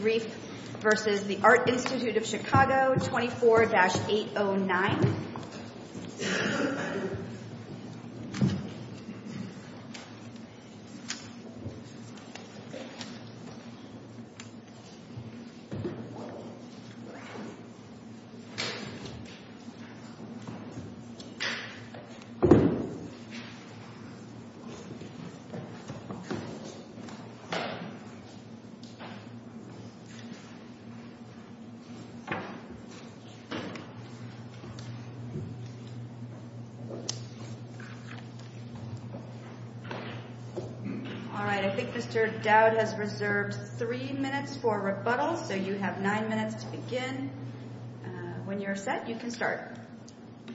24-809.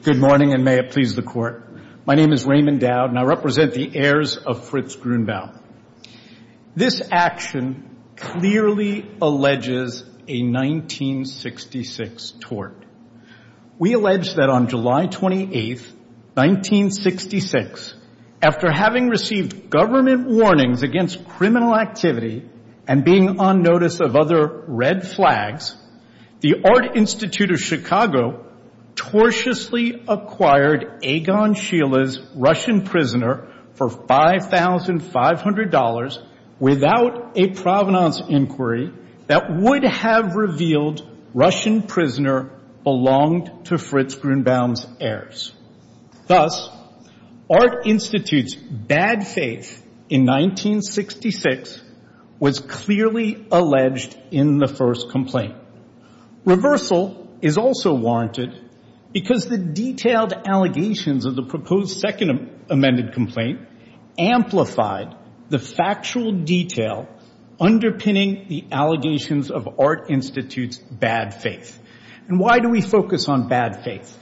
Good morning, and may it please the Court. My name is Raymond Dowd, and I represent the heirs of Fritz Grunewald. This action clearly alleges a 1966 tort. We allege that on July 28, 1966, after having received government warnings against criminal activity and being on notice of other red flags, the Art Institute of Chicago tortiously acquired Egon Schiele's Russian prisoner for $5,500 without a provenance inquiry that would have revealed Russian prisoner belonged to Fritz Grunewald's heirs. Thus, Art Institute's bad faith in 1966 was clearly alleged in the first complaint. Reversal is also warranted because the detailed allegations of the proposed second amended complaint amplified the factual detail underpinning the allegations of Art Institute's bad faith. And why do we focus on bad faith?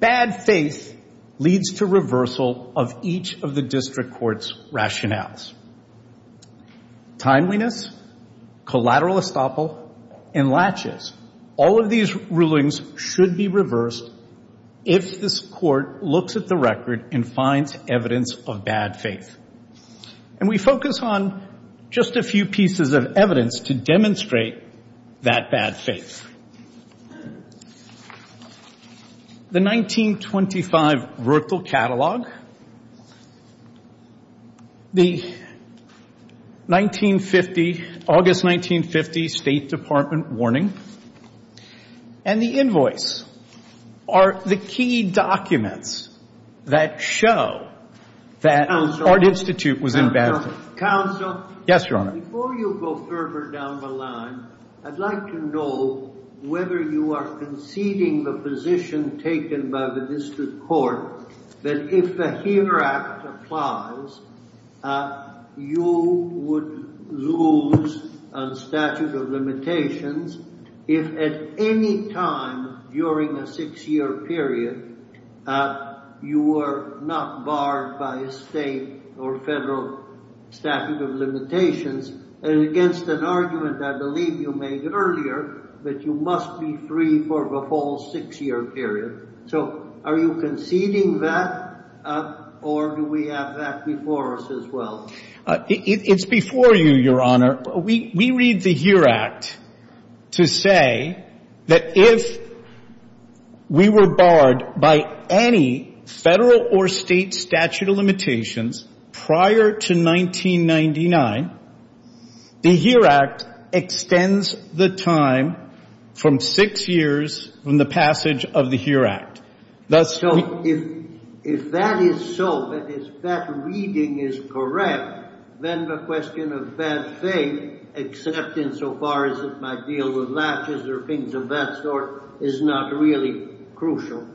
Bad faith leads to reversal of each of the district court's rationales. Timeliness, collateral estoppel, and latches, all of these rulings should be reversed if this court looks at the record and finds evidence of bad faith. And we focus on just a few pieces of evidence to demonstrate that bad faith. The 1925 Rurtal Catalog, the 1950, August 1950 State Department warning, and the invoice are the key documents that show that Art Institute was in bad faith. Counsel? Yes, Your Honor. Before you go further down the line, I'd like to know whether you are conceding the position taken by the district court that if the HERE Act applies, you would lose a statute of limitations if at any time during a six-year period you were not barred by a state or federal statute of limitations against an argument I believe you made earlier that you must be free for the whole six-year period. So are you conceding that or do we have that before us as well? It's before you, Your Honor. We read the HERE Act to say that if we were barred by any federal or state statute of limitations prior to 1999, the HERE Act extends the time from six years from the passage of the HERE Act. So if that is so, if that reading is correct, then the question of bad faith, except insofar as it might deal with latches or things of that sort, is not really crucial.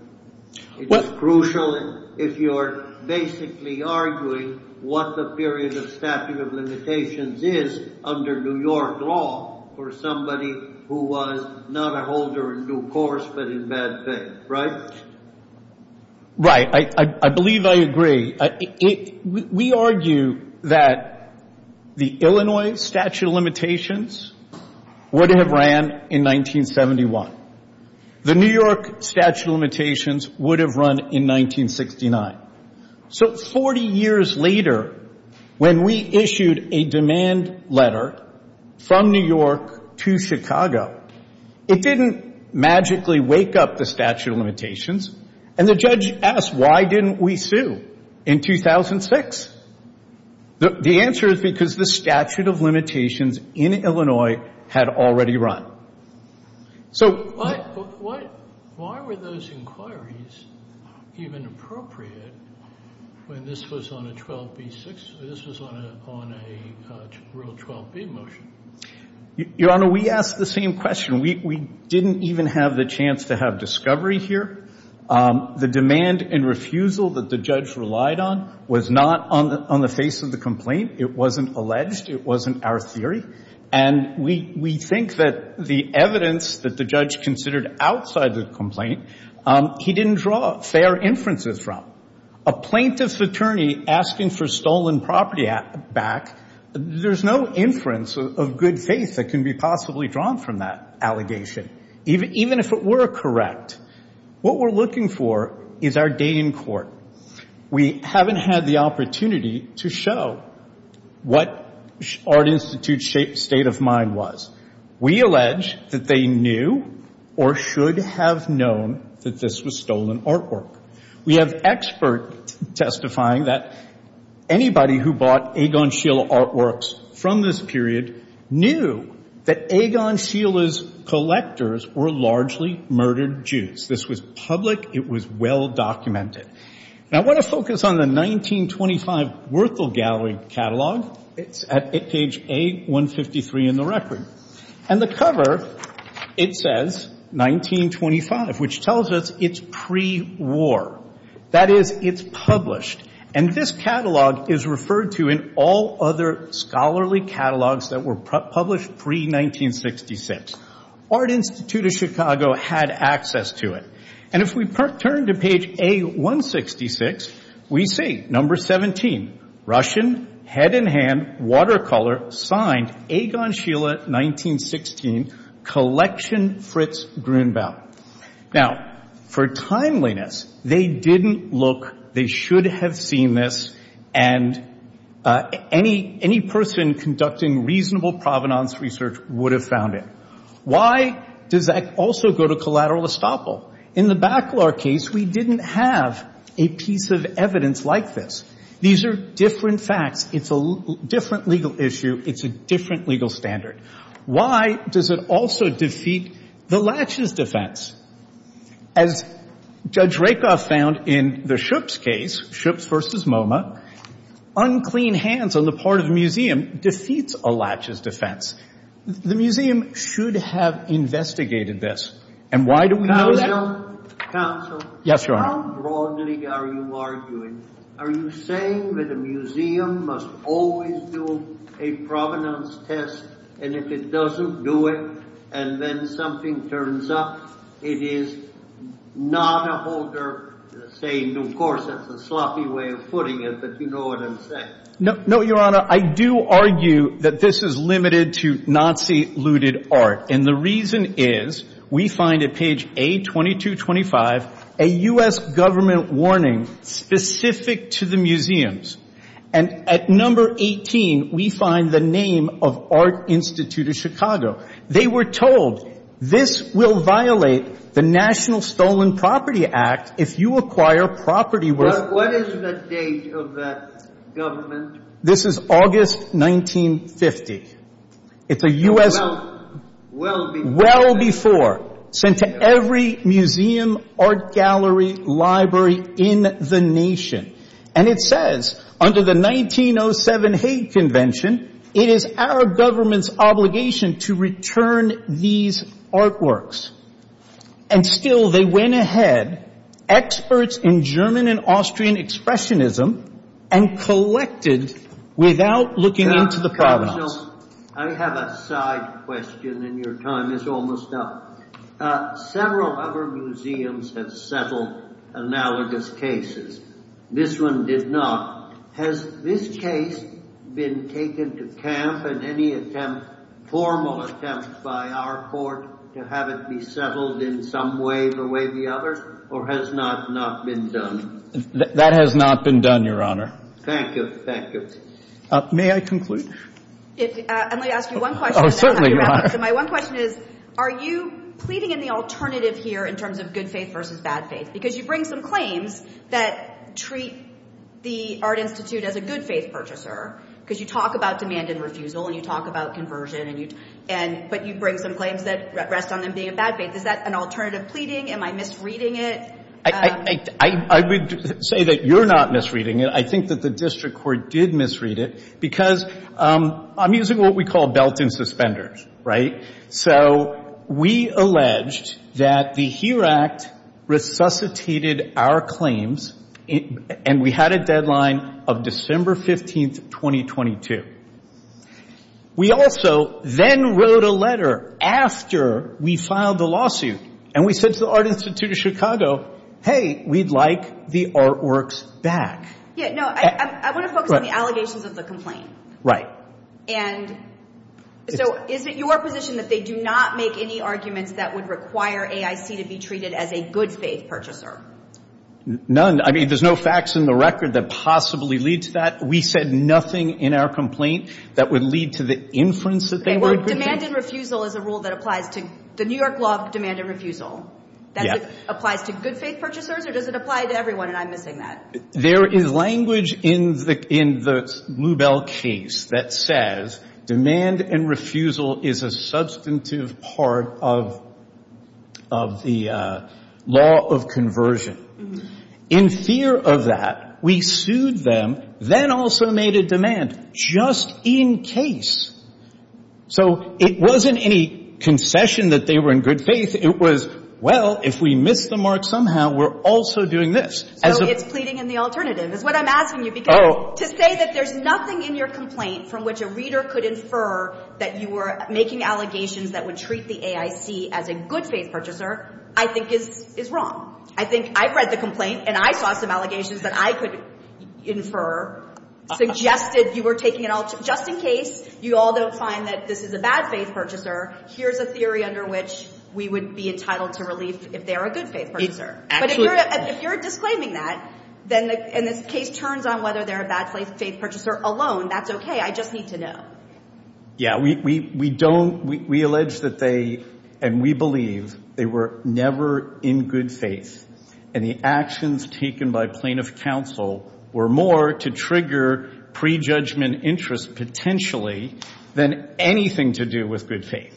It is crucial if you are basically arguing what the period of statute of limitations is under New York law for somebody who was not a holder in due course but in bad faith. Right. I believe I agree. We argue that the Illinois statute of limitations would have ran in 1971. The New York statute of limitations would have run in 1969. So 40 years later, when we issued a demand letter from New York to Chicago, it didn't magically wake up the statute of limitations, and the judge asked, why didn't we sue in 2006? The answer is because the statute of limitations in Illinois had already run. So why were those inquiries even appropriate when this was on a 12b6, this was on a real 12b motion? Your Honor, we asked the same question. We didn't even have the chance to have discovery here. The demand and refusal that the judge relied on was not on the face of the complaint. It wasn't alleged. It wasn't our theory. And we think that the evidence that the judge considered outside the complaint, he didn't draw fair inferences from. A plaintiff's attorney asking for stolen property back, there's no inference of good faith that can be possibly drawn from that allegation, even if it were correct. What we're looking for is our day in court. We haven't had the opportunity to show what Art Institute's state of mind was. We allege that they knew or should have known that this was stolen artwork. We have experts testifying that anybody who bought Egon Schiele artworks from this period knew that Egon Schiele's collectors were largely murdered Jews. This was public. It was well documented. Now I want to focus on the 1925 Werthel Gallery catalog. It's at page A153 in the record. And the cover, it says 1925, which tells us it's pre-war. That is, it's published. And this catalog is referred to in all other scholarly catalogs that were published pre-1966. Art Institute of Chicago had access to it. And if we turn to page A166, we see number 17, Russian, head in hand, watercolor, signed, Egon Schiele, 1916, collection Fritz Grunbaum. Now, for timeliness, they didn't look, they should have seen this, and any person conducting reasonable provenance research would have found it. Why does that also go to collateral estoppel? In the Bacalar case, we didn't have a piece of evidence like this. These are different facts. It's a different legal issue. It's a different legal standard. Why does it also defeat the latches defense? As Judge Rakoff found in the Schoeps case, Schoeps v. MoMA, unclean hands on the part of the museum defeats a latches defense. The museum should have investigated this, and why do we know that? Counsel? Yes, Your Honor. How broadly are you arguing? Are you saying that a museum must always do a provenance test, and if it doesn't do it, and then something turns up, it is not a holder saying, of course, that's a sloppy way of putting it, but you know what I'm saying. No, Your Honor, I do argue that this is limited to Nazi-looted art, and the reason is we find at page A2225 a U.S. government warning specific to the museums, and at number 18, we find the name of Art Institute of Chicago. They were told, this will violate the National Stolen Property Act if you acquire property worth… What is the date of that government? This is August 1950. It's a U.S. Well before. Well before. Sent to every museum, art gallery, library in the nation, and it says under the 1907 Hague Convention, it is our government's obligation to return these artworks, and still they went ahead, experts in German and Austrian expressionism, and collected without looking into the products. I have a side question, and your time is almost up. Several other museums have settled analogous cases. This one did not. Has this case been taken to camp in any attempt, formal attempt by our court to have it be settled in some way the way the others, or has not not been done? That has not been done, Your Honor. Thank you. Thank you. May I conclude? I'm going to ask you one question. Oh, certainly, Your Honor. My one question is, are you pleading in the alternative here in terms of good faith versus bad faith? Because you bring some claims that treat the Art Institute as a good faith purchaser, because you talk about demand and refusal, and you talk about conversion, but you bring some claims that rest on them being a bad faith. Is that an alternative pleading? Am I misreading it? I would say that you're not misreading it. I think that the district court did misread it because I'm using what we call belt and suspenders, right? So we alleged that the HERE Act resuscitated our claims, and we had a deadline of December 15, 2022. We also then wrote a letter after we filed the lawsuit, and we said to the Art Institute of Chicago, hey, we'd like the artworks back. Yeah, no, I want to focus on the allegations of the complaint. And so is it your position that they do not make any arguments that would require AIC to be treated as a good faith purchaser? None. I mean, there's no facts in the record that possibly lead to that. We said nothing in our complaint that would lead to the inference that they were a good faith purchaser. Okay, well, demand and refusal is a rule that applies to the New York law of demand and refusal. That applies to good faith purchasers, or does it apply to everyone, and I'm missing that? There is language in the Lubell case that says demand and refusal is a substantive part of the law of conversion. In fear of that, we sued them, then also made a demand just in case. So it wasn't any concession that they were in good faith. It was, well, if we miss the mark somehow, we're also doing this. So it's pleading in the alternative is what I'm asking you. Oh. Because to say that there's nothing in your complaint from which a reader could infer that you were making allegations that would treat the AIC as a good faith purchaser, I think is wrong. I think I've read the complaint, and I saw some allegations that I could infer suggested you were taking it all just in case. You all don't find that this is a bad faith purchaser. Here's a theory under which we would be entitled to relief if they're a good faith purchaser. Absolutely. But if you're disclaiming that, and this case turns on whether they're a bad faith purchaser alone, that's okay. I just need to know. Yeah. We don't – we allege that they, and we believe they were never in good faith, and the actions taken by plaintiff counsel were more to trigger prejudgment interest potentially than anything to do with good faith.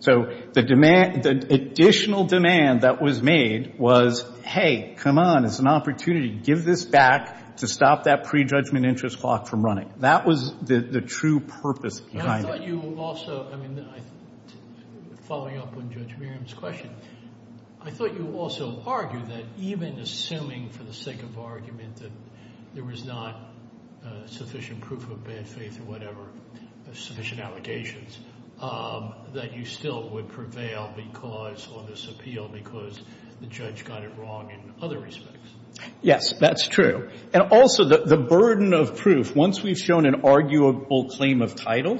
So the demand – the additional demand that was made was, hey, come on, it's an opportunity. Give this back to stop that prejudgment interest clock from running. That was the true purpose behind it. I thought you also – I mean, following up on Judge Merriam's question, I thought you also argued that even assuming for the sake of argument that there was not sufficient proof of bad faith or whatever, sufficient allegations, that you still would prevail because – on this appeal because the judge got it wrong in other respects. Yes, that's true. And also the burden of proof, once we've shown an arguable claim of title,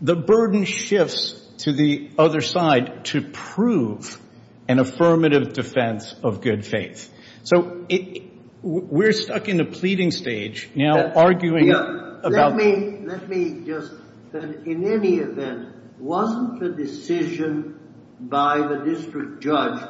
the burden shifts to the other side to prove an affirmative defense of good faith. So we're stuck in a pleading stage now arguing about – Let me just – in any event, wasn't the decision by the district judge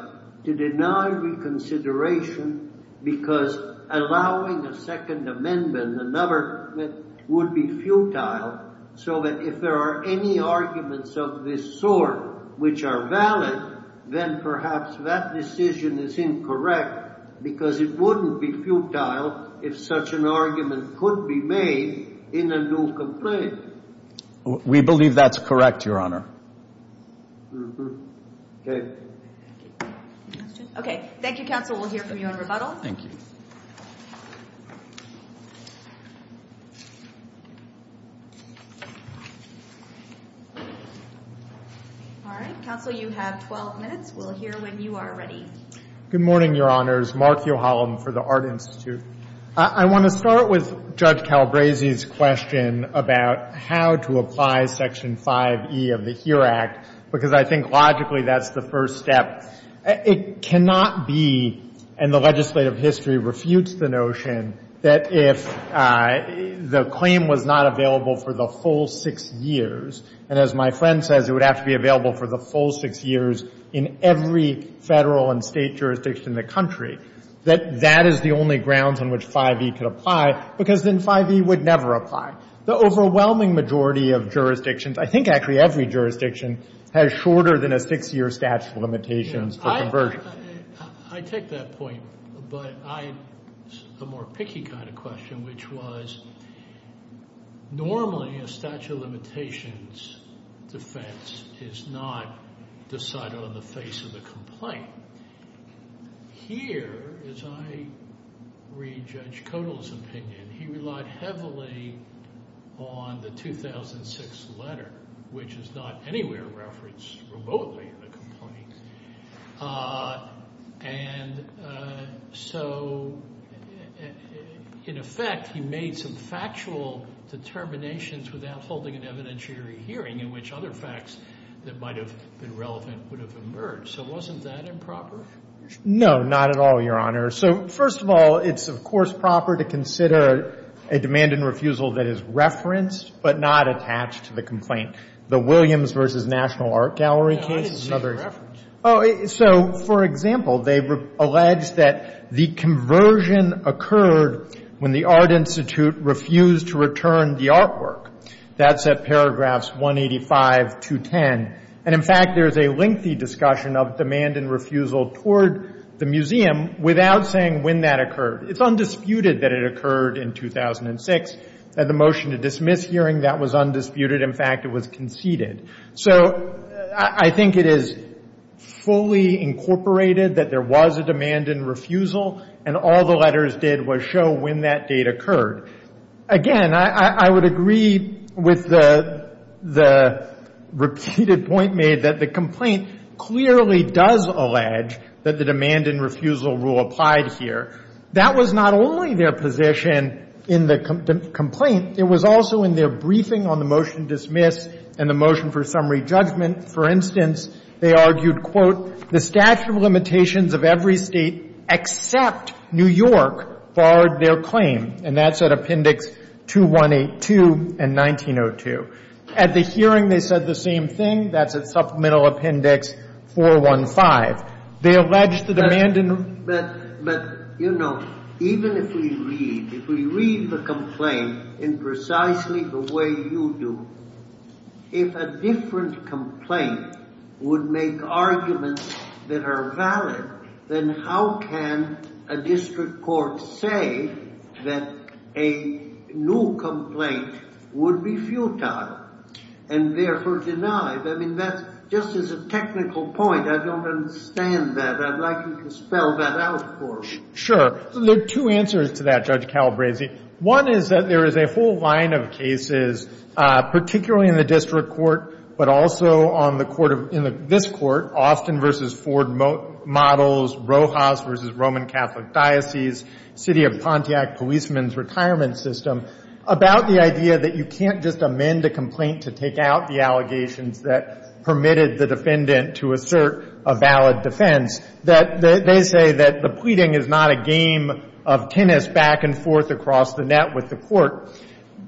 to deny reconsideration because allowing a Second Amendment, another would be futile, so that if there are any arguments of this sort which are valid, then perhaps that decision is incorrect because it wouldn't be futile if such an argument could be made in a new complaint. We believe that's correct, Your Honor. Okay. Okay. Thank you, Counsel. We'll hear from you on rebuttal. Thank you. All right. Counsel, you have 12 minutes. We'll hear when you are ready. Good morning, Your Honors. Mark Yohalam for the Art Institute. I want to start with Judge Calabresi's question about how to apply Section 5e of the HERE Act because I think logically that's the first step. It cannot be – and the legislative history refutes the notion that if the claim was not available for the full six years, and as my friend says, it would have to be available for the full six years in every Federal and State jurisdiction in the country, that that is the only grounds on which 5e could apply because then 5e would never apply. The overwhelming majority of jurisdictions, I think actually every jurisdiction, has shorter than a six-year statute of limitations for conversion. I take that point, but a more picky kind of question, which was normally a statute of limitations defense is not decided on the face of the complaint. Here, as I read Judge Kodal's opinion, he relied heavily on the 2006 letter, which is not anywhere referenced remotely in the complaint. And so in effect, he made some factual determinations without holding an evidentiary hearing in which other facts that might have been relevant would have emerged. So wasn't that improper? No, not at all, Your Honor. So first of all, it's, of course, proper to consider a demand and refusal that is referenced but not attached to the complaint. The Williams v. National Art Gallery case is another. I didn't see the reference. So, for example, they allege that the conversion occurred when the Art Institute refused to return the artwork. That's at paragraphs 185 to 10. And, in fact, there's a lengthy discussion of demand and refusal toward the museum without saying when that occurred. It's undisputed that it occurred in 2006, that the motion to dismiss hearing, that was undisputed. In fact, it was conceded. So I think it is fully incorporated that there was a demand and refusal, and all the letters did was show when that date occurred. Again, I would agree with the repeated point made that the complaint clearly does allege that the demand and refusal rule applied here. That was not only their position in the complaint. It was also in their briefing on the motion to dismiss and the motion for summary judgment. For instance, they argued, quote, the statute of limitations of every state except New York barred their claim. And that's at Appendix 2182 and 1902. At the hearing, they said the same thing. That's at Supplemental Appendix 415. They allege the demand and the rule. I mean, that's just as a technical point. I don't understand that. I'd like you to spell that out for me. Sure. There are two answers to that, Judge Calabresi. One is that there is a full line of cases, particularly in the district court, but also on the district court. This court, Austin v. Ford Models, Rojas v. Roman Catholic Diocese, City of Pontiac Policeman's Retirement System, about the idea that you can't just amend a complaint to take out the allegations that permitted the defendant to assert a valid defense. They say that the pleading is not a game of tennis back and forth across the net with the court.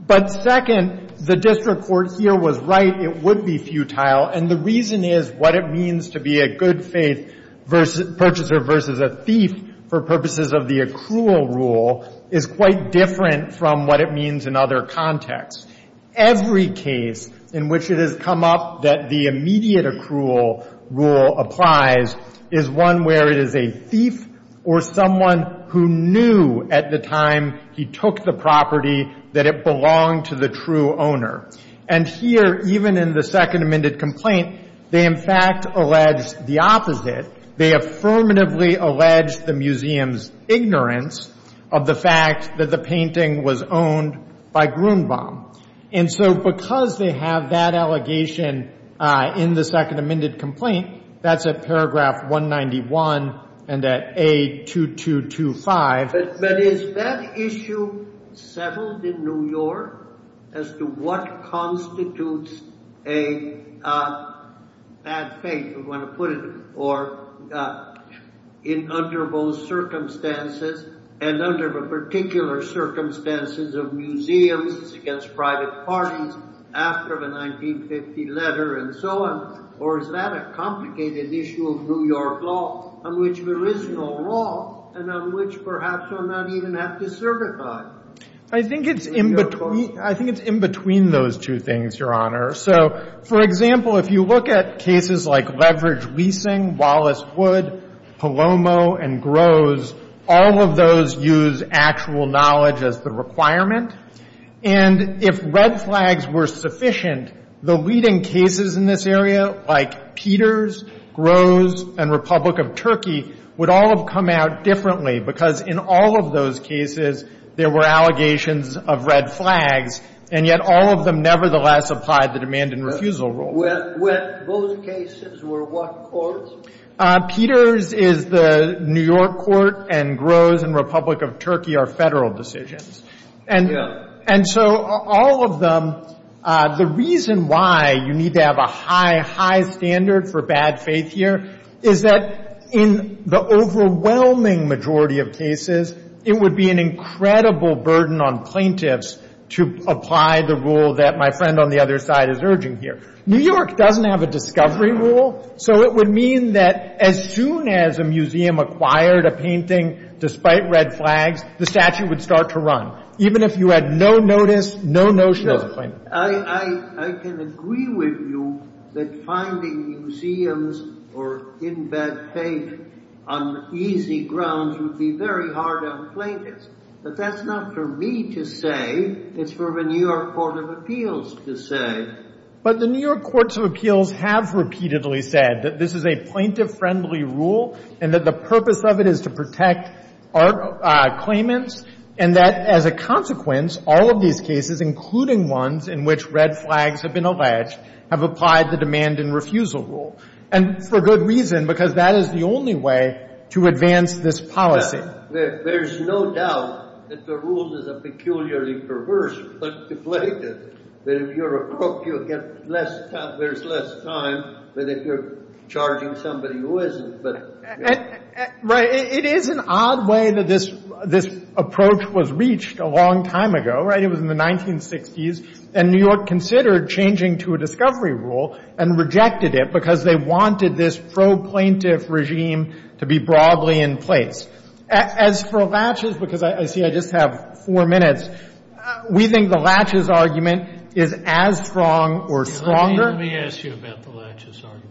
But second, the district court here was right. It would be futile. And the reason is what it means to be a good faith purchaser versus a thief for purposes of the accrual rule is quite different from what it means in other contexts. Every case in which it has come up that the immediate accrual rule applies is one where it is a thief or someone who knew at the time he took the property that it belonged to the true owner. And here, even in the Second Amended Complaint, they in fact allege the opposite. They affirmatively allege the museum's ignorance of the fact that the painting was owned by Grunbaum. And so because they have that allegation in the Second Amended Complaint, that's at paragraph 191 and at A2225. But is that issue settled in New York as to what constitutes a bad faith, if you want to put it, or under those circumstances and under the particular circumstances of museums against private parties after the 1950 letter and so on, or is that a complicated issue of New York law on which there is no law and on which perhaps I might even have to certify? I think it's in between those two things, Your Honor. So, for example, if you look at cases like Leverage Leasing, Wallace Wood, Palomo, and Groves, all of those use actual knowledge as the requirement. And if red flags were sufficient, the leading cases in this area, like Peters, Groves, and Republic of Turkey, would all have come out differently because in all of those cases, there were allegations of red flags, and yet all of them nevertheless applied the demand and refusal rule. Those cases were what courts? Peters is the New York court, and Groves and Republic of Turkey are Federal decisions. And so all of them, the reason why you need to have a high, high standard for bad faith here is that in the overwhelming majority of cases, it would be an incredible burden on plaintiffs to apply the rule that my friend on the other side is urging here. New York doesn't have a discovery rule, so it would mean that as soon as a museum acquired a painting, despite red flags, the statue would start to run. Even if you had no notice, no notion as a plaintiff. I can agree with you that finding museums or in bad faith on easy grounds would be very hard on plaintiffs. But that's not for me to say. It's for the New York Court of Appeals to say. But the New York Courts of Appeals have repeatedly said that this is a plaintiff-friendly rule and that the purpose of it is to protect our claimants. And that as a consequence, all of these cases, including ones in which red flags have been alleged, have applied the demand and refusal rule. And for good reason, because that is the only way to advance this policy. There's no doubt that the rule is a peculiarly perverse but deflated. But if you're a crook, you'll get less time. There's less time whether you're charging somebody who isn't. Right. It is an odd way that this approach was reached a long time ago. It was in the 1960s. And New York considered changing to a discovery rule and rejected it because they wanted this pro-plaintiff regime to be broadly in place. As for Latches, because I see I just have four minutes, we think the Latches argument is as strong or stronger. Let me ask you about the Latches argument.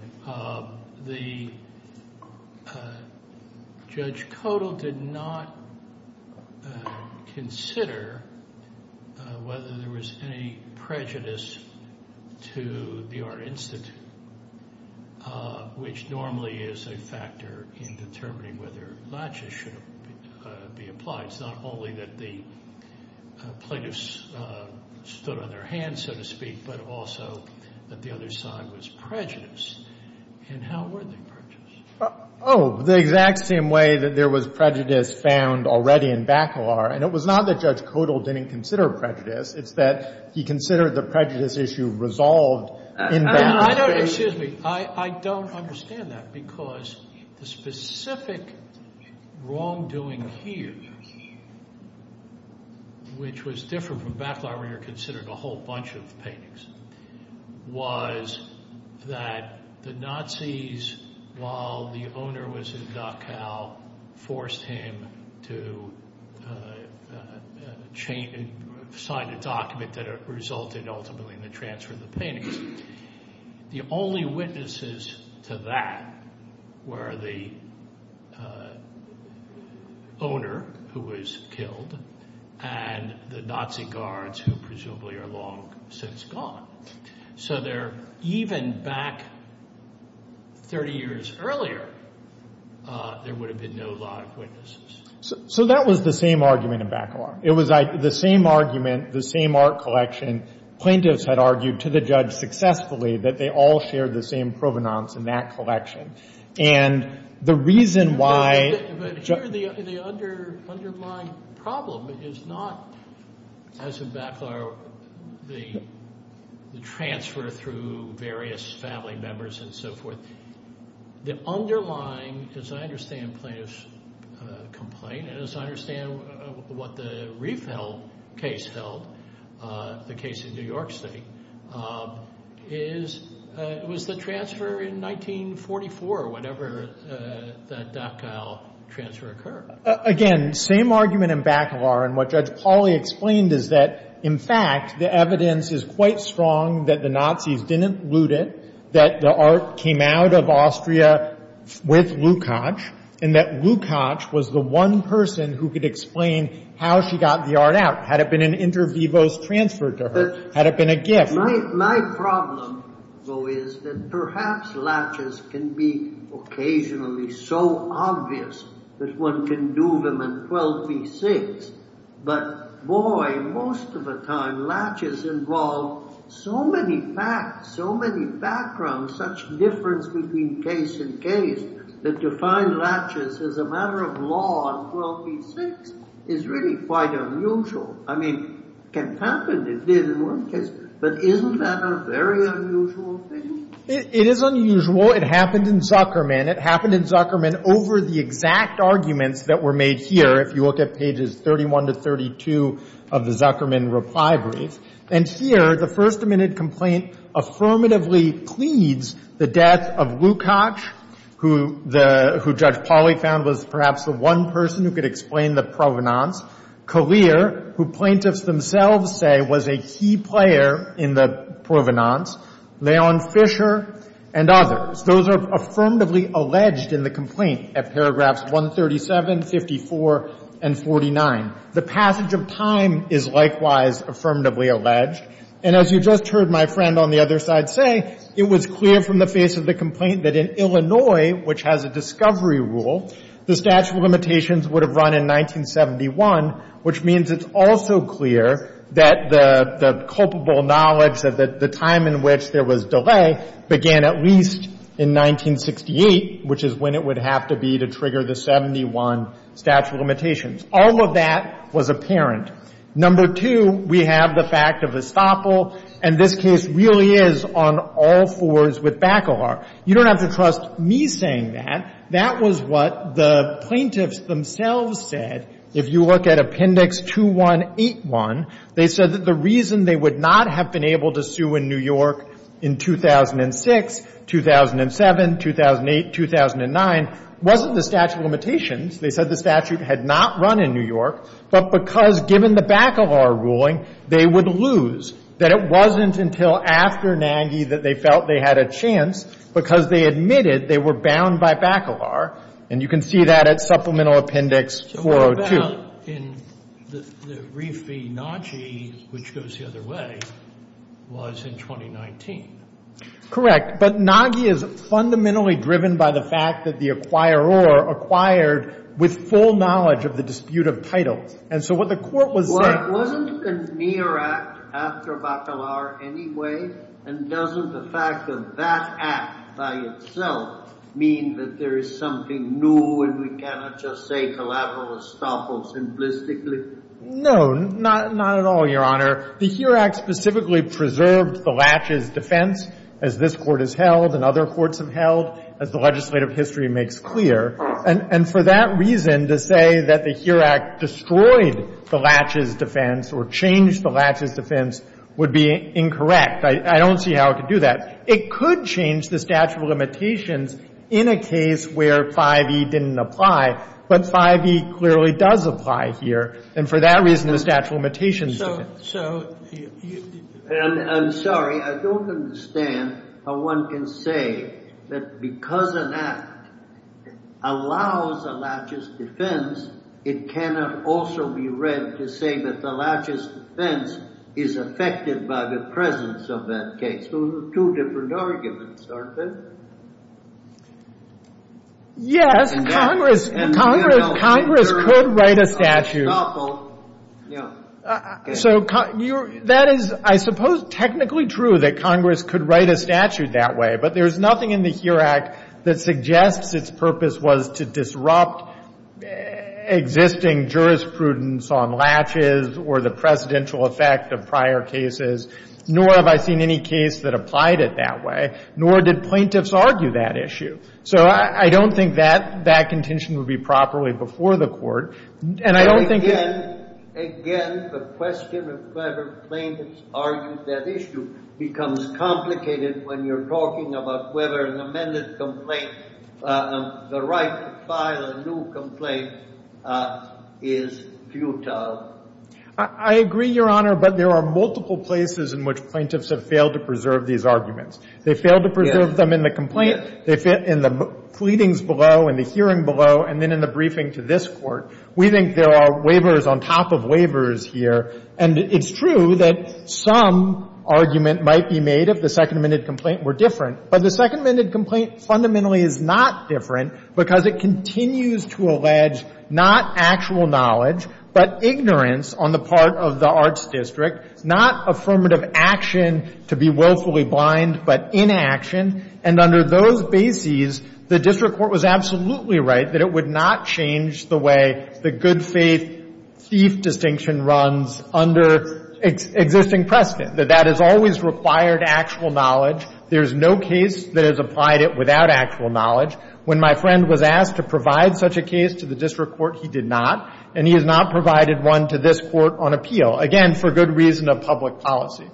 The Judge Codall did not consider whether there was any prejudice to the art institute, which normally is a factor in determining whether Latches should be applied. It's not only that the plaintiffs stood on their hands, so to speak, but also that the other side was prejudiced. And how were they prejudiced? Oh, the exact same way that there was prejudice found already in Bacalar. And it was not that Judge Codall didn't consider prejudice. It's that he considered the prejudice issue resolved in Bacalar. I don't understand that because the specific wrongdoing here, which was different from Bacalar where you're considering a whole bunch of paintings, was that the Nazis, while the owner was in Dachau, forced him to sign a document that resulted ultimately in the transfer of the paintings. The only witnesses to that were the owner who was killed and the Nazi guards who presumably are long since gone. So even back 30 years earlier, there would have been no Latches witnesses. So that was the same argument in Bacalar. It was the same argument, the same art collection. And plaintiffs had argued to the judge successfully that they all shared the same provenance in that collection. And the reason why— But here the underlying problem is not, as in Bacalar, the transfer through various family members and so forth. The underlying, as I understand the plaintiff's complaint, as I understand what the Riefeld case held, the case in New York State, was the transfer in 1944, whenever that Dachau transfer occurred. Again, same argument in Bacalar. And what Judge Pauly explained is that, in fact, the evidence is quite strong that the Nazis didn't loot it, that the art came out of Austria with Lukacs, and that Lukacs was the one person who could explain how she got the art out. Had it been an inter vivos transfer to her? Had it been a gift? My problem, though, is that perhaps Latches can be occasionally so obvious that one can do them in 12b-6. But, boy, most of the time, Latches involved so many facts, so many backgrounds, such difference between case and case that to find Latches as a matter of law in 12b-6 is really quite unusual. I mean, it can happen. It did in one case. But isn't that a very unusual thing? It is unusual. It happened in Zuckerman. It happened in Zuckerman over the exact arguments that were made here, if you look at pages 31 to 32 of the Zuckerman reply brief. And here, the First Amendment complaint affirmatively pleads the death of Lukacs, who Judge Pauly found was perhaps the one person who could explain the provenance. Collier, who plaintiffs themselves say was a key player in the provenance. Leon Fisher and others. Those are affirmatively alleged in the complaint at paragraphs 137, 54, and 49. The passage of time is likewise affirmatively alleged. And as you just heard my friend on the other side say, it was clear from the face of the complaint that in Illinois, which has a discovery rule, the statute of limitations would have run in 1971, which means it's also clear that the culpable knowledge of the time in which there was delay began at least in 1968, which is when it would have to be to trigger the 71 statute of limitations. All of that was apparent. Number two, we have the fact of estoppel. And this case really is on all fours with Bacalar. You don't have to trust me saying that. That was what the plaintiffs themselves said. If you look at Appendix 2181, they said that the reason they would not have been able to sue in New York in 2006, 2007, 2008, 2009, wasn't the statute of limitations. They said the statute had not run in New York, but because given the Bacalar ruling, they would lose, that it wasn't until after Nagy that they felt they had a chance because they admitted they were bound by Bacalar. And you can see that at Supplemental Appendix 402. Sotomayor, in the Reef v. Nagy, which goes the other way, was in 2019. Correct. But Nagy is fundamentally driven by the fact that the acquiror acquired with full knowledge of the dispute of title. And so what the Court was saying was... Well, wasn't the NEAR Act after Bacalar anyway? And doesn't the fact of that Act by itself mean that there is something new and we cannot just say collateral estoppel simplistically? No, not at all, Your Honor. The NEAR Act specifically preserved the latches defense, as this Court has held and other courts have held, as the legislative history makes clear. And for that reason, to say that the NEAR Act destroyed the latches defense or changed the latches defense would be incorrect. I don't see how it could do that. It could change the statute of limitations in a case where 5e didn't apply, but 5e clearly does apply here. And for that reason, the statute of limitations... I'm sorry, I don't understand how one can say that because an Act allows a latches defense, it cannot also be read to say that the latches defense is affected by the presence of that case. Those are two different arguments, aren't they? Yes, Congress could write a statute. So that is, I suppose, technically true that Congress could write a statute that way. But there is nothing in the NEAR Act that suggests its purpose was to disrupt existing jurisprudence on latches or the precedential effect of prior cases, nor have I seen any case that applied it that way, nor did plaintiffs argue that issue. So I don't think that that contention would be properly before the Court. And I don't think... Again, the question of whether plaintiffs argued that issue becomes complicated when you're talking about whether an amended complaint, the right to file a new complaint, is futile. I agree, Your Honor, but there are multiple places in which plaintiffs have failed to preserve these arguments. They failed to preserve them in the complaint, in the pleadings below, in the hearing of the district court. We think there are waivers on top of waivers here. And it's true that some argument might be made if the second amended complaint were different. But the second amended complaint fundamentally is not different because it continues to allege not actual knowledge, but ignorance on the part of the arts district, not affirmative action to be willfully blind, but inaction. And under those bases, the district court was absolutely right that it would not change the way the good faith thief distinction runs under existing precedent, that that has always required actual knowledge. There is no case that has applied it without actual knowledge. When my friend was asked to provide such a case to the district court, he did not. And he has not provided one to this Court on appeal, again, for good reason of public policy.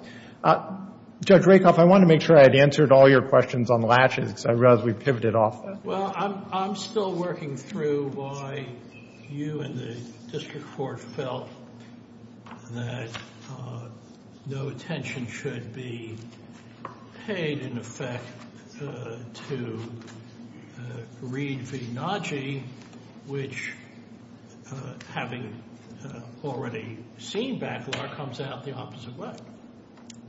Judge Rakoff, I wanted to make sure I had answered all your questions on latches because I realized we pivoted off. Well, I'm still working through why you and the district court felt that no attention should be paid, in effect, to Reed v. Nagy, which, having already seen backlog, comes out the opposite way.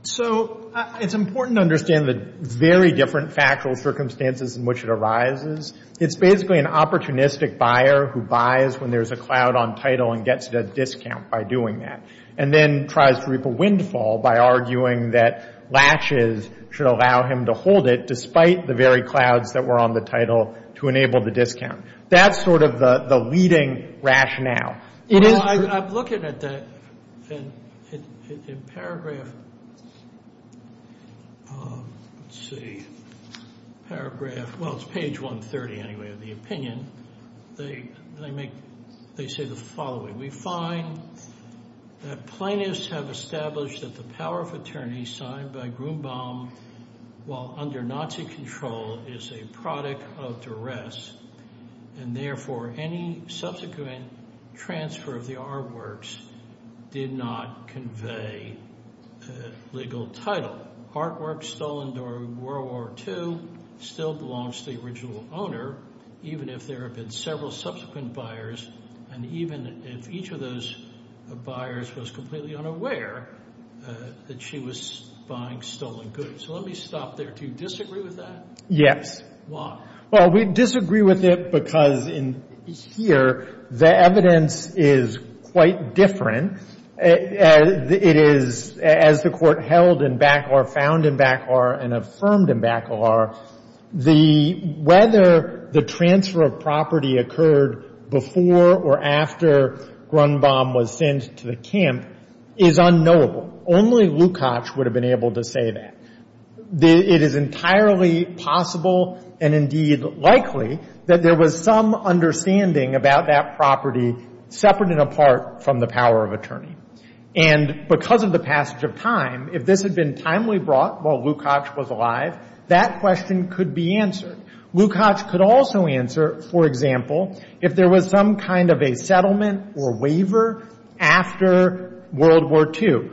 So it's important to understand the very different factual circumstances in which it arises. It's basically an opportunistic buyer who buys when there's a cloud on title and gets a discount by doing that, and then tries to reap a windfall by arguing that latches should allow him to hold it despite the very clouds that were on the title to enable the discount. That's sort of the leading rationale. Well, I'm looking at that in paragraph, let's see, paragraph, well, it's page 130, anyway, of the opinion. They say the following. We find that plaintiffs have established that the power of attorney signed by Grumbaum while under Nazi control is a product of duress and, therefore, any subsequent transfer of the artworks did not convey legal title. Artwork stolen during World War II still belongs to the original owner, even if there have been several subsequent buyers, and even if each of those buyers was completely unaware that she was buying stolen goods. So let me stop there. Do you disagree with that? Yes. Why? Well, we disagree with it because in here the evidence is quite different. It is, as the Court held in Baclar, found in Baclar, and affirmed in Baclar, whether the transfer of property occurred before or after Grumbaum was sent to the camp is unknowable. Only Lukacs would have been able to say that. It is entirely possible and, indeed, likely that there was some understanding about that property separate and apart from the power of attorney. And because of the passage of time, if this had been timely brought while Lukacs was alive, that question could be answered. Lukacs could also answer, for example, if there was some kind of a settlement or waiver after World War II.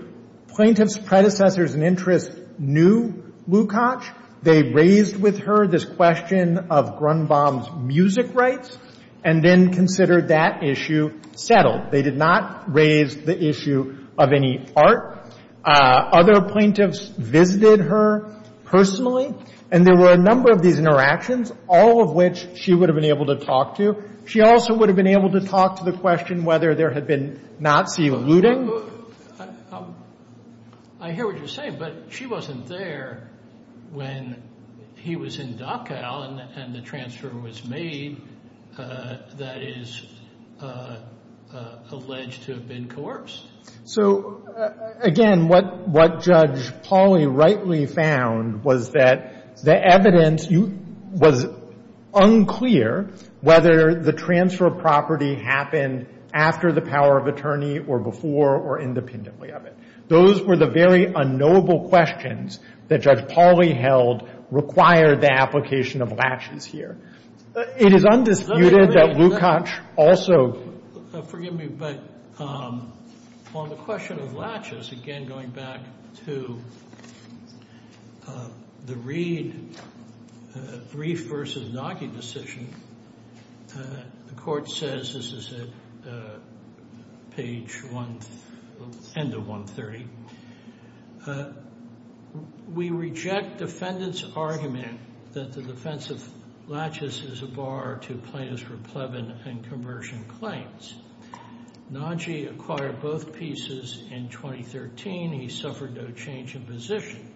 Plaintiff's predecessors and interests knew Lukacs. They raised with her this question of Grumbaum's music rights and then considered that issue settled. They did not raise the issue of any art. Other plaintiffs visited her personally, and there were a number of these interactions, all of which she would have been able to talk to. She also would have been able to talk to the question whether there had been Nazi looting. I hear what you're saying, but she wasn't there when he was in Dachau and the transfer was made that is alleged to have been coerced. So, again, what Judge Pauly rightly found was that the evidence was unclear whether the transfer of property happened after the power of attorney or before or independently of it. Those were the very unknowable questions that Judge Pauly held required the application of latches here. It is undisputed that Lukacs also- Forgive me, but on the question of latches, again going back to the Reif v. Naki decision, the court says, this is at page end of 130, we reject defendant's argument that the defense of latches is a bar to plaintiffs for plebin and conversion claims. Naki acquired both pieces in 2013. He suffered no change in position,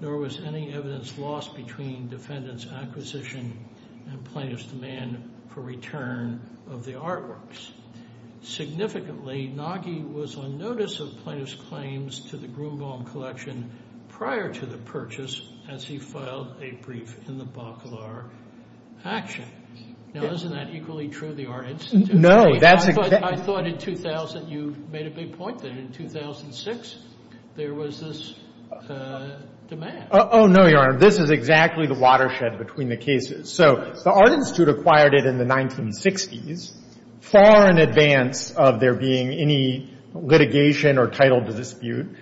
nor was any evidence lost between defendant's acquisition and plaintiff's demand for return of the artworks. Significantly, Naki was on notice of plaintiff's claims to the Grunbaum collection prior to the purchase as he filed a brief in the Bacalar action. Now, isn't that equally true of the Art Institute? No. I thought in 2000 you made a big point that in 2006 there was this demand. Oh, no, Your Honor. This is exactly the watershed between the cases. So the Art Institute acquired it in the 1960s, far in advance of there being any litigation or title to dispute,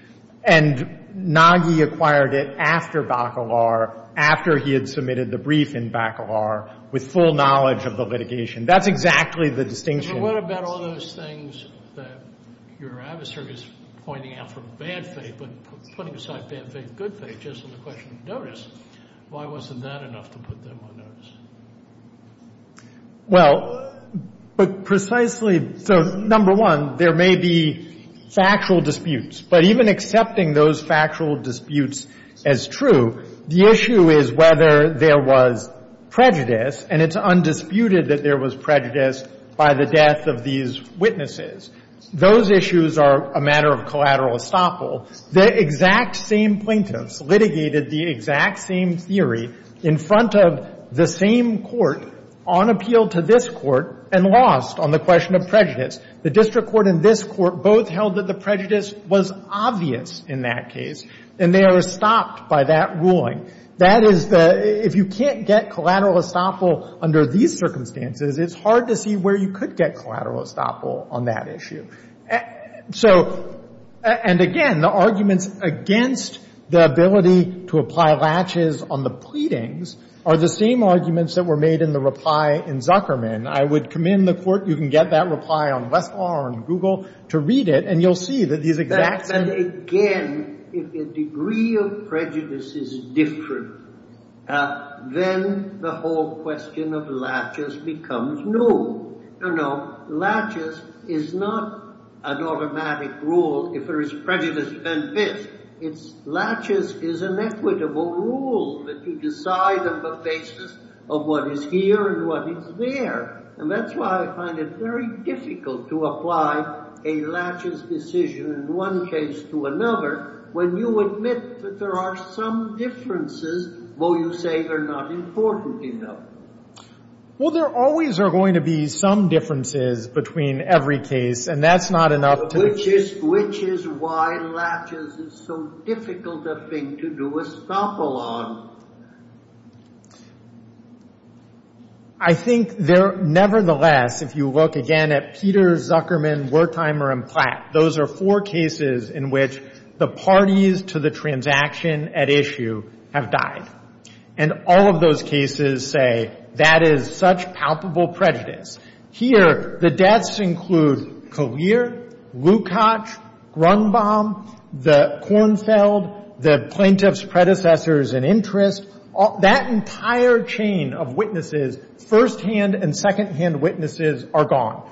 and Naki acquired it after Bacalar, after he had submitted the brief in Bacalar with full knowledge of the litigation. That's exactly the distinction. But what about all those things that your adversary is pointing out for bad faith but putting aside bad faith and good faith just on the question of notice? Why wasn't that enough to put them on notice? Well, but precisely so, number one, there may be factual disputes, but even accepting those factual disputes as true, the issue is whether there was prejudice, and it's undisputed that there was prejudice by the death of these witnesses. Those issues are a matter of collateral estoppel. The exact same plaintiffs litigated the exact same theory in front of the same court on appeal to this court and lost on the question of prejudice. The district court and this court both held that the prejudice was obvious in that case, and they are estopped by that ruling. That is the — if you can't get collateral estoppel under these circumstances, it's hard to see where you could get collateral estoppel on that issue. So — and again, the arguments against the ability to apply latches on the pleadings are the same arguments that were made in the reply in Zuckerman. I would commend the court — you can get that reply on Westlaw and Google to read it, and you'll see that these exact same — And again, if the degree of prejudice is different, then the whole question of latches becomes new. You know, latches is not an automatic rule if there is prejudice and this. Latches is an equitable rule that you decide on the basis of what is here and what is there. And that's why I find it very difficult to apply a latches decision in one case to another when you admit that there are some differences, though you say they're not important enough. Well, there always are going to be some differences between every case, and that's not enough to — Which is why latches is so difficult a thing to do estoppel on. I think nevertheless, if you look again at Peter, Zuckerman, Wertheimer, and Platt, those are four cases in which the parties to the transaction at issue have died. And all of those cases say that is such palpable prejudice. Here, the deaths include Collier, Lukacs, Grunbaum, the Kornfeld, the plaintiff's predecessors in interest. That entire chain of witnesses, firsthand and secondhand witnesses, are gone.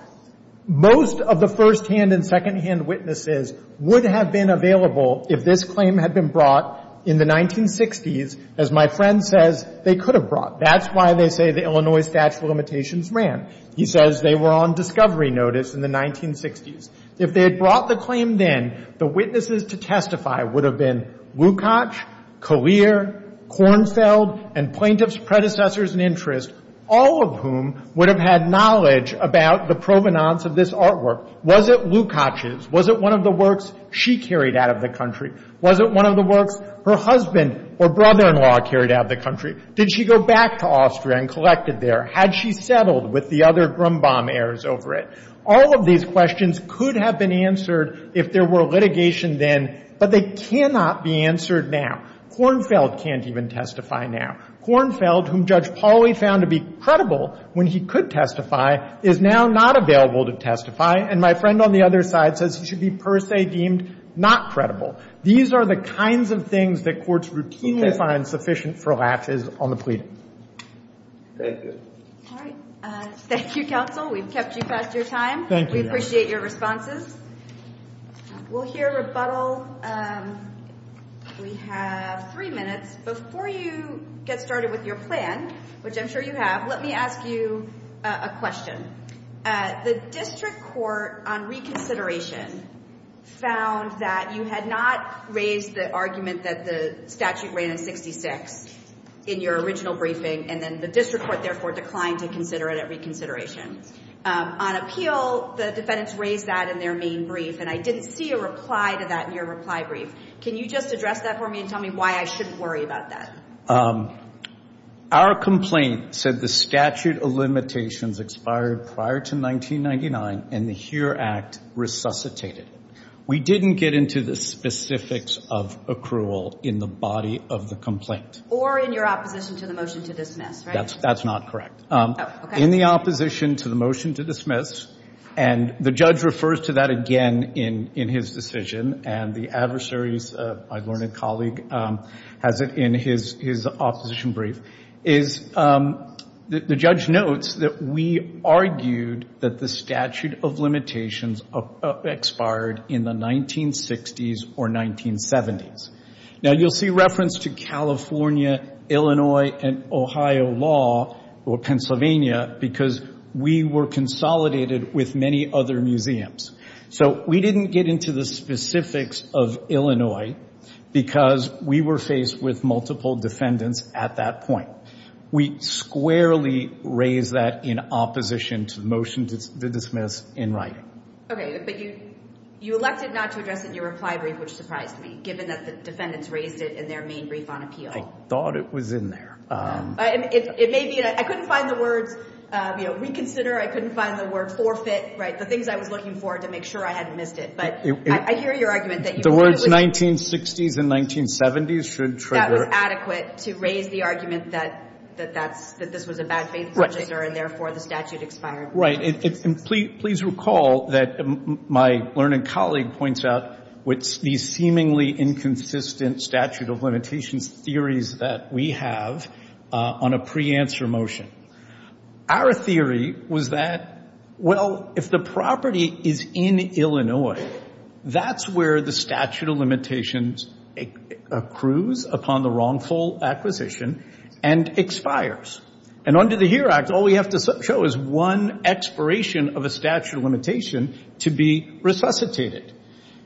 Most of the firsthand and secondhand witnesses would have been available if this claim had been brought in the 1960s. As my friend says, they could have brought. That's why they say the Illinois statute of limitations ran. He says they were on discovery notice in the 1960s. If they had brought the claim then, the witnesses to testify would have been Lukacs, Collier, Kornfeld, and plaintiff's predecessors in interest, all of whom would have had knowledge about the provenance of this artwork. Was it Lukacs's? Was it one of the works she carried out of the country? Was it one of the works her husband or brother-in-law carried out of the country? Did she go back to Austria and collect it there? Had she settled with the other Grunbaum heirs over it? All of these questions could have been answered if there were litigation then, but they cannot be answered now. Kornfeld can't even testify now. Kornfeld, whom Judge Pauly found to be credible when he could testify, is now not available to testify. And my friend on the other side says he should be per se deemed not credible. These are the kinds of things that courts routinely find sufficient for lapses on the plea. Thank you. All right. Thank you, counsel. We've kept you past your time. Thank you. We appreciate your responses. We'll hear rebuttal. We have three minutes. Before you get started with your plan, which I'm sure you have, let me ask you a question. The district court on reconsideration found that you had not raised the argument that the statute ran in 66 in your original briefing, and then the district court therefore declined to consider it at reconsideration. On appeal, the defendants raised that in their main brief, and I didn't see a reply to that in your reply brief. Can you just address that for me and tell me why I shouldn't worry about that? Our complaint said the statute of limitations expired prior to 1999 and the HERE Act resuscitated it. We didn't get into the specifics of accrual in the body of the complaint. Or in your opposition to the motion to dismiss, right? That's not correct. Oh, okay. In the opposition to the motion to dismiss, and the judge refers to that again in his decision, and the adversaries, my learned colleague has it in his opposition brief, is the judge notes that we argued that the statute of limitations expired in the 1960s or 1970s. Now, you'll see reference to California, Illinois, and Ohio law, or Pennsylvania, because we were consolidated with many other museums. So we didn't get into the specifics of Illinois because we were faced with multiple defendants at that point. We squarely raised that in opposition to the motion to dismiss in writing. Okay, but you elected not to address it in your reply brief, which surprised me, given that the defendants raised it in their main brief on appeal. I thought it was in there. It may be. I couldn't find the words, you know, reconsider. I couldn't find the word forfeit. Right. The things I was looking for to make sure I hadn't missed it. But I hear your argument that you wanted to. The words 1960s and 1970s should trigger. That was adequate to raise the argument that that's, that this was a bad faith procedure, and therefore the statute expired. Right. And please recall that my learned colleague points out these seemingly inconsistent statute of limitations theories that we have on a pre-answer motion. Our theory was that, well, if the property is in Illinois, that's where the statute of limitations accrues upon the wrongful acquisition and expires. And under the HERE Act, all we have to show is one expiration of a statute of limitation to be resuscitated.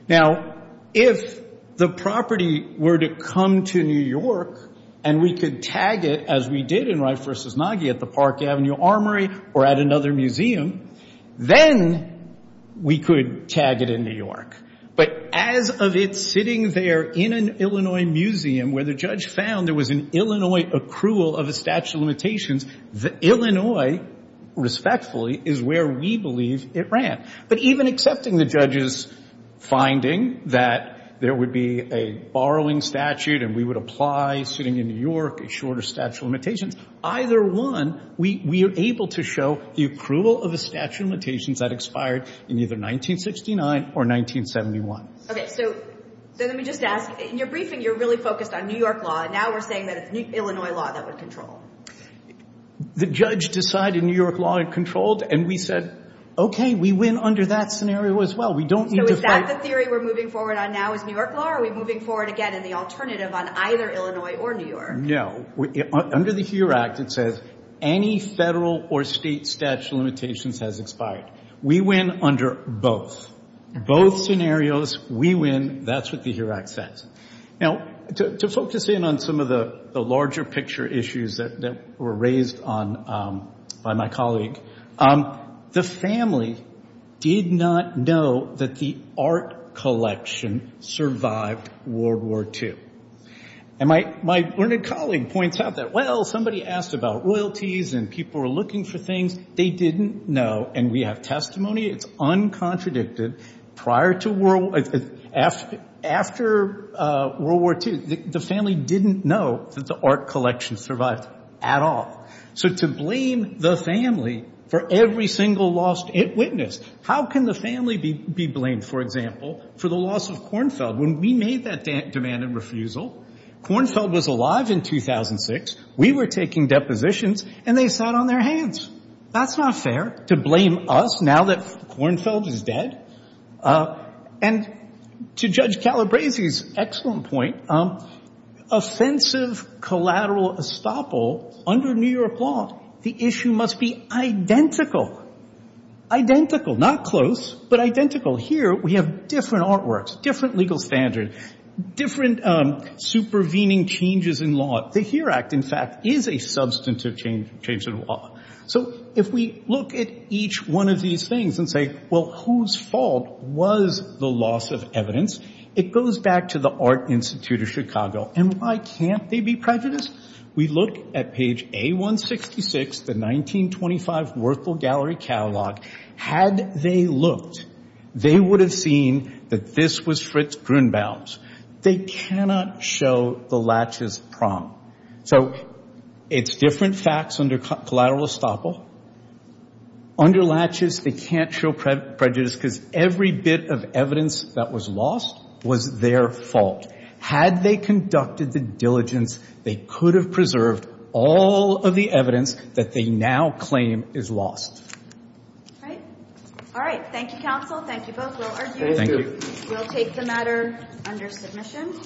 Now, if the property were to come to New York and we could tag it as we did in Reif v. Nagy at the Park Avenue Armory or at another museum, then we could tag it in New York. But as of it sitting there in an Illinois museum where the judge found there was an Illinois accrual of a statute of limitations, the Illinois, respectfully, is where we believe it ran. But even accepting the judge's finding that there would be a borrowing statute and we would apply sitting in New York a shorter statute of limitations, either one, we are able to show the accrual of a statute of limitations that expired in either 1969 or 1971. Okay. So let me just ask. In your briefing, you're really focused on New York law. Now we're saying that it's Illinois law that would control. The judge decided New York law controlled, and we said, okay, we win under that scenario as well. We don't need to fight. So is that the theory we're moving forward on now is New York law, or are we moving forward again in the alternative on either Illinois or New York? No. Under the HERE Act, it says any federal or state statute of limitations has expired. We win under both. Both scenarios, we win. That's what the HERE Act says. Now, to focus in on some of the larger picture issues that were raised by my colleague, the family did not know that the art collection survived World War II. And my learned colleague points out that, well, somebody asked about royalties and people were looking for things they didn't know, and we have testimony. It's uncontradicted. After World War II, the family didn't know that the art collection survived at all. So to blame the family for every single loss it witnessed. How can the family be blamed, for example, for the loss of Kornfeld? When we made that demand and refusal, Kornfeld was alive in 2006. We were taking depositions, and they sat on their hands. That's not fair to blame us now that Kornfeld is dead. And to Judge Calabresi's excellent point, offensive collateral estoppel under New York law, the issue must be identical. Identical, not close, but identical. Here we have different artworks, different legal standards, different supervening changes in law. The HERE Act, in fact, is a substantive change in law. So if we look at each one of these things and say, well, whose fault was the loss of evidence? It goes back to the Art Institute of Chicago. And why can't they be prejudiced? We look at page A-166, the 1925 Werthel Gallery Catalog. Had they looked, they would have seen that this was Fritz Grunbaum's. They cannot show the latches prong. So it's different facts under collateral estoppel. Under latches, they can't show prejudice because every bit of evidence that was lost was their fault. Had they conducted the diligence, they could have preserved all of the evidence that they now claim is lost. All right. Thank you, counsel. Thank you both. We'll argue. We'll take the matter. Under submission.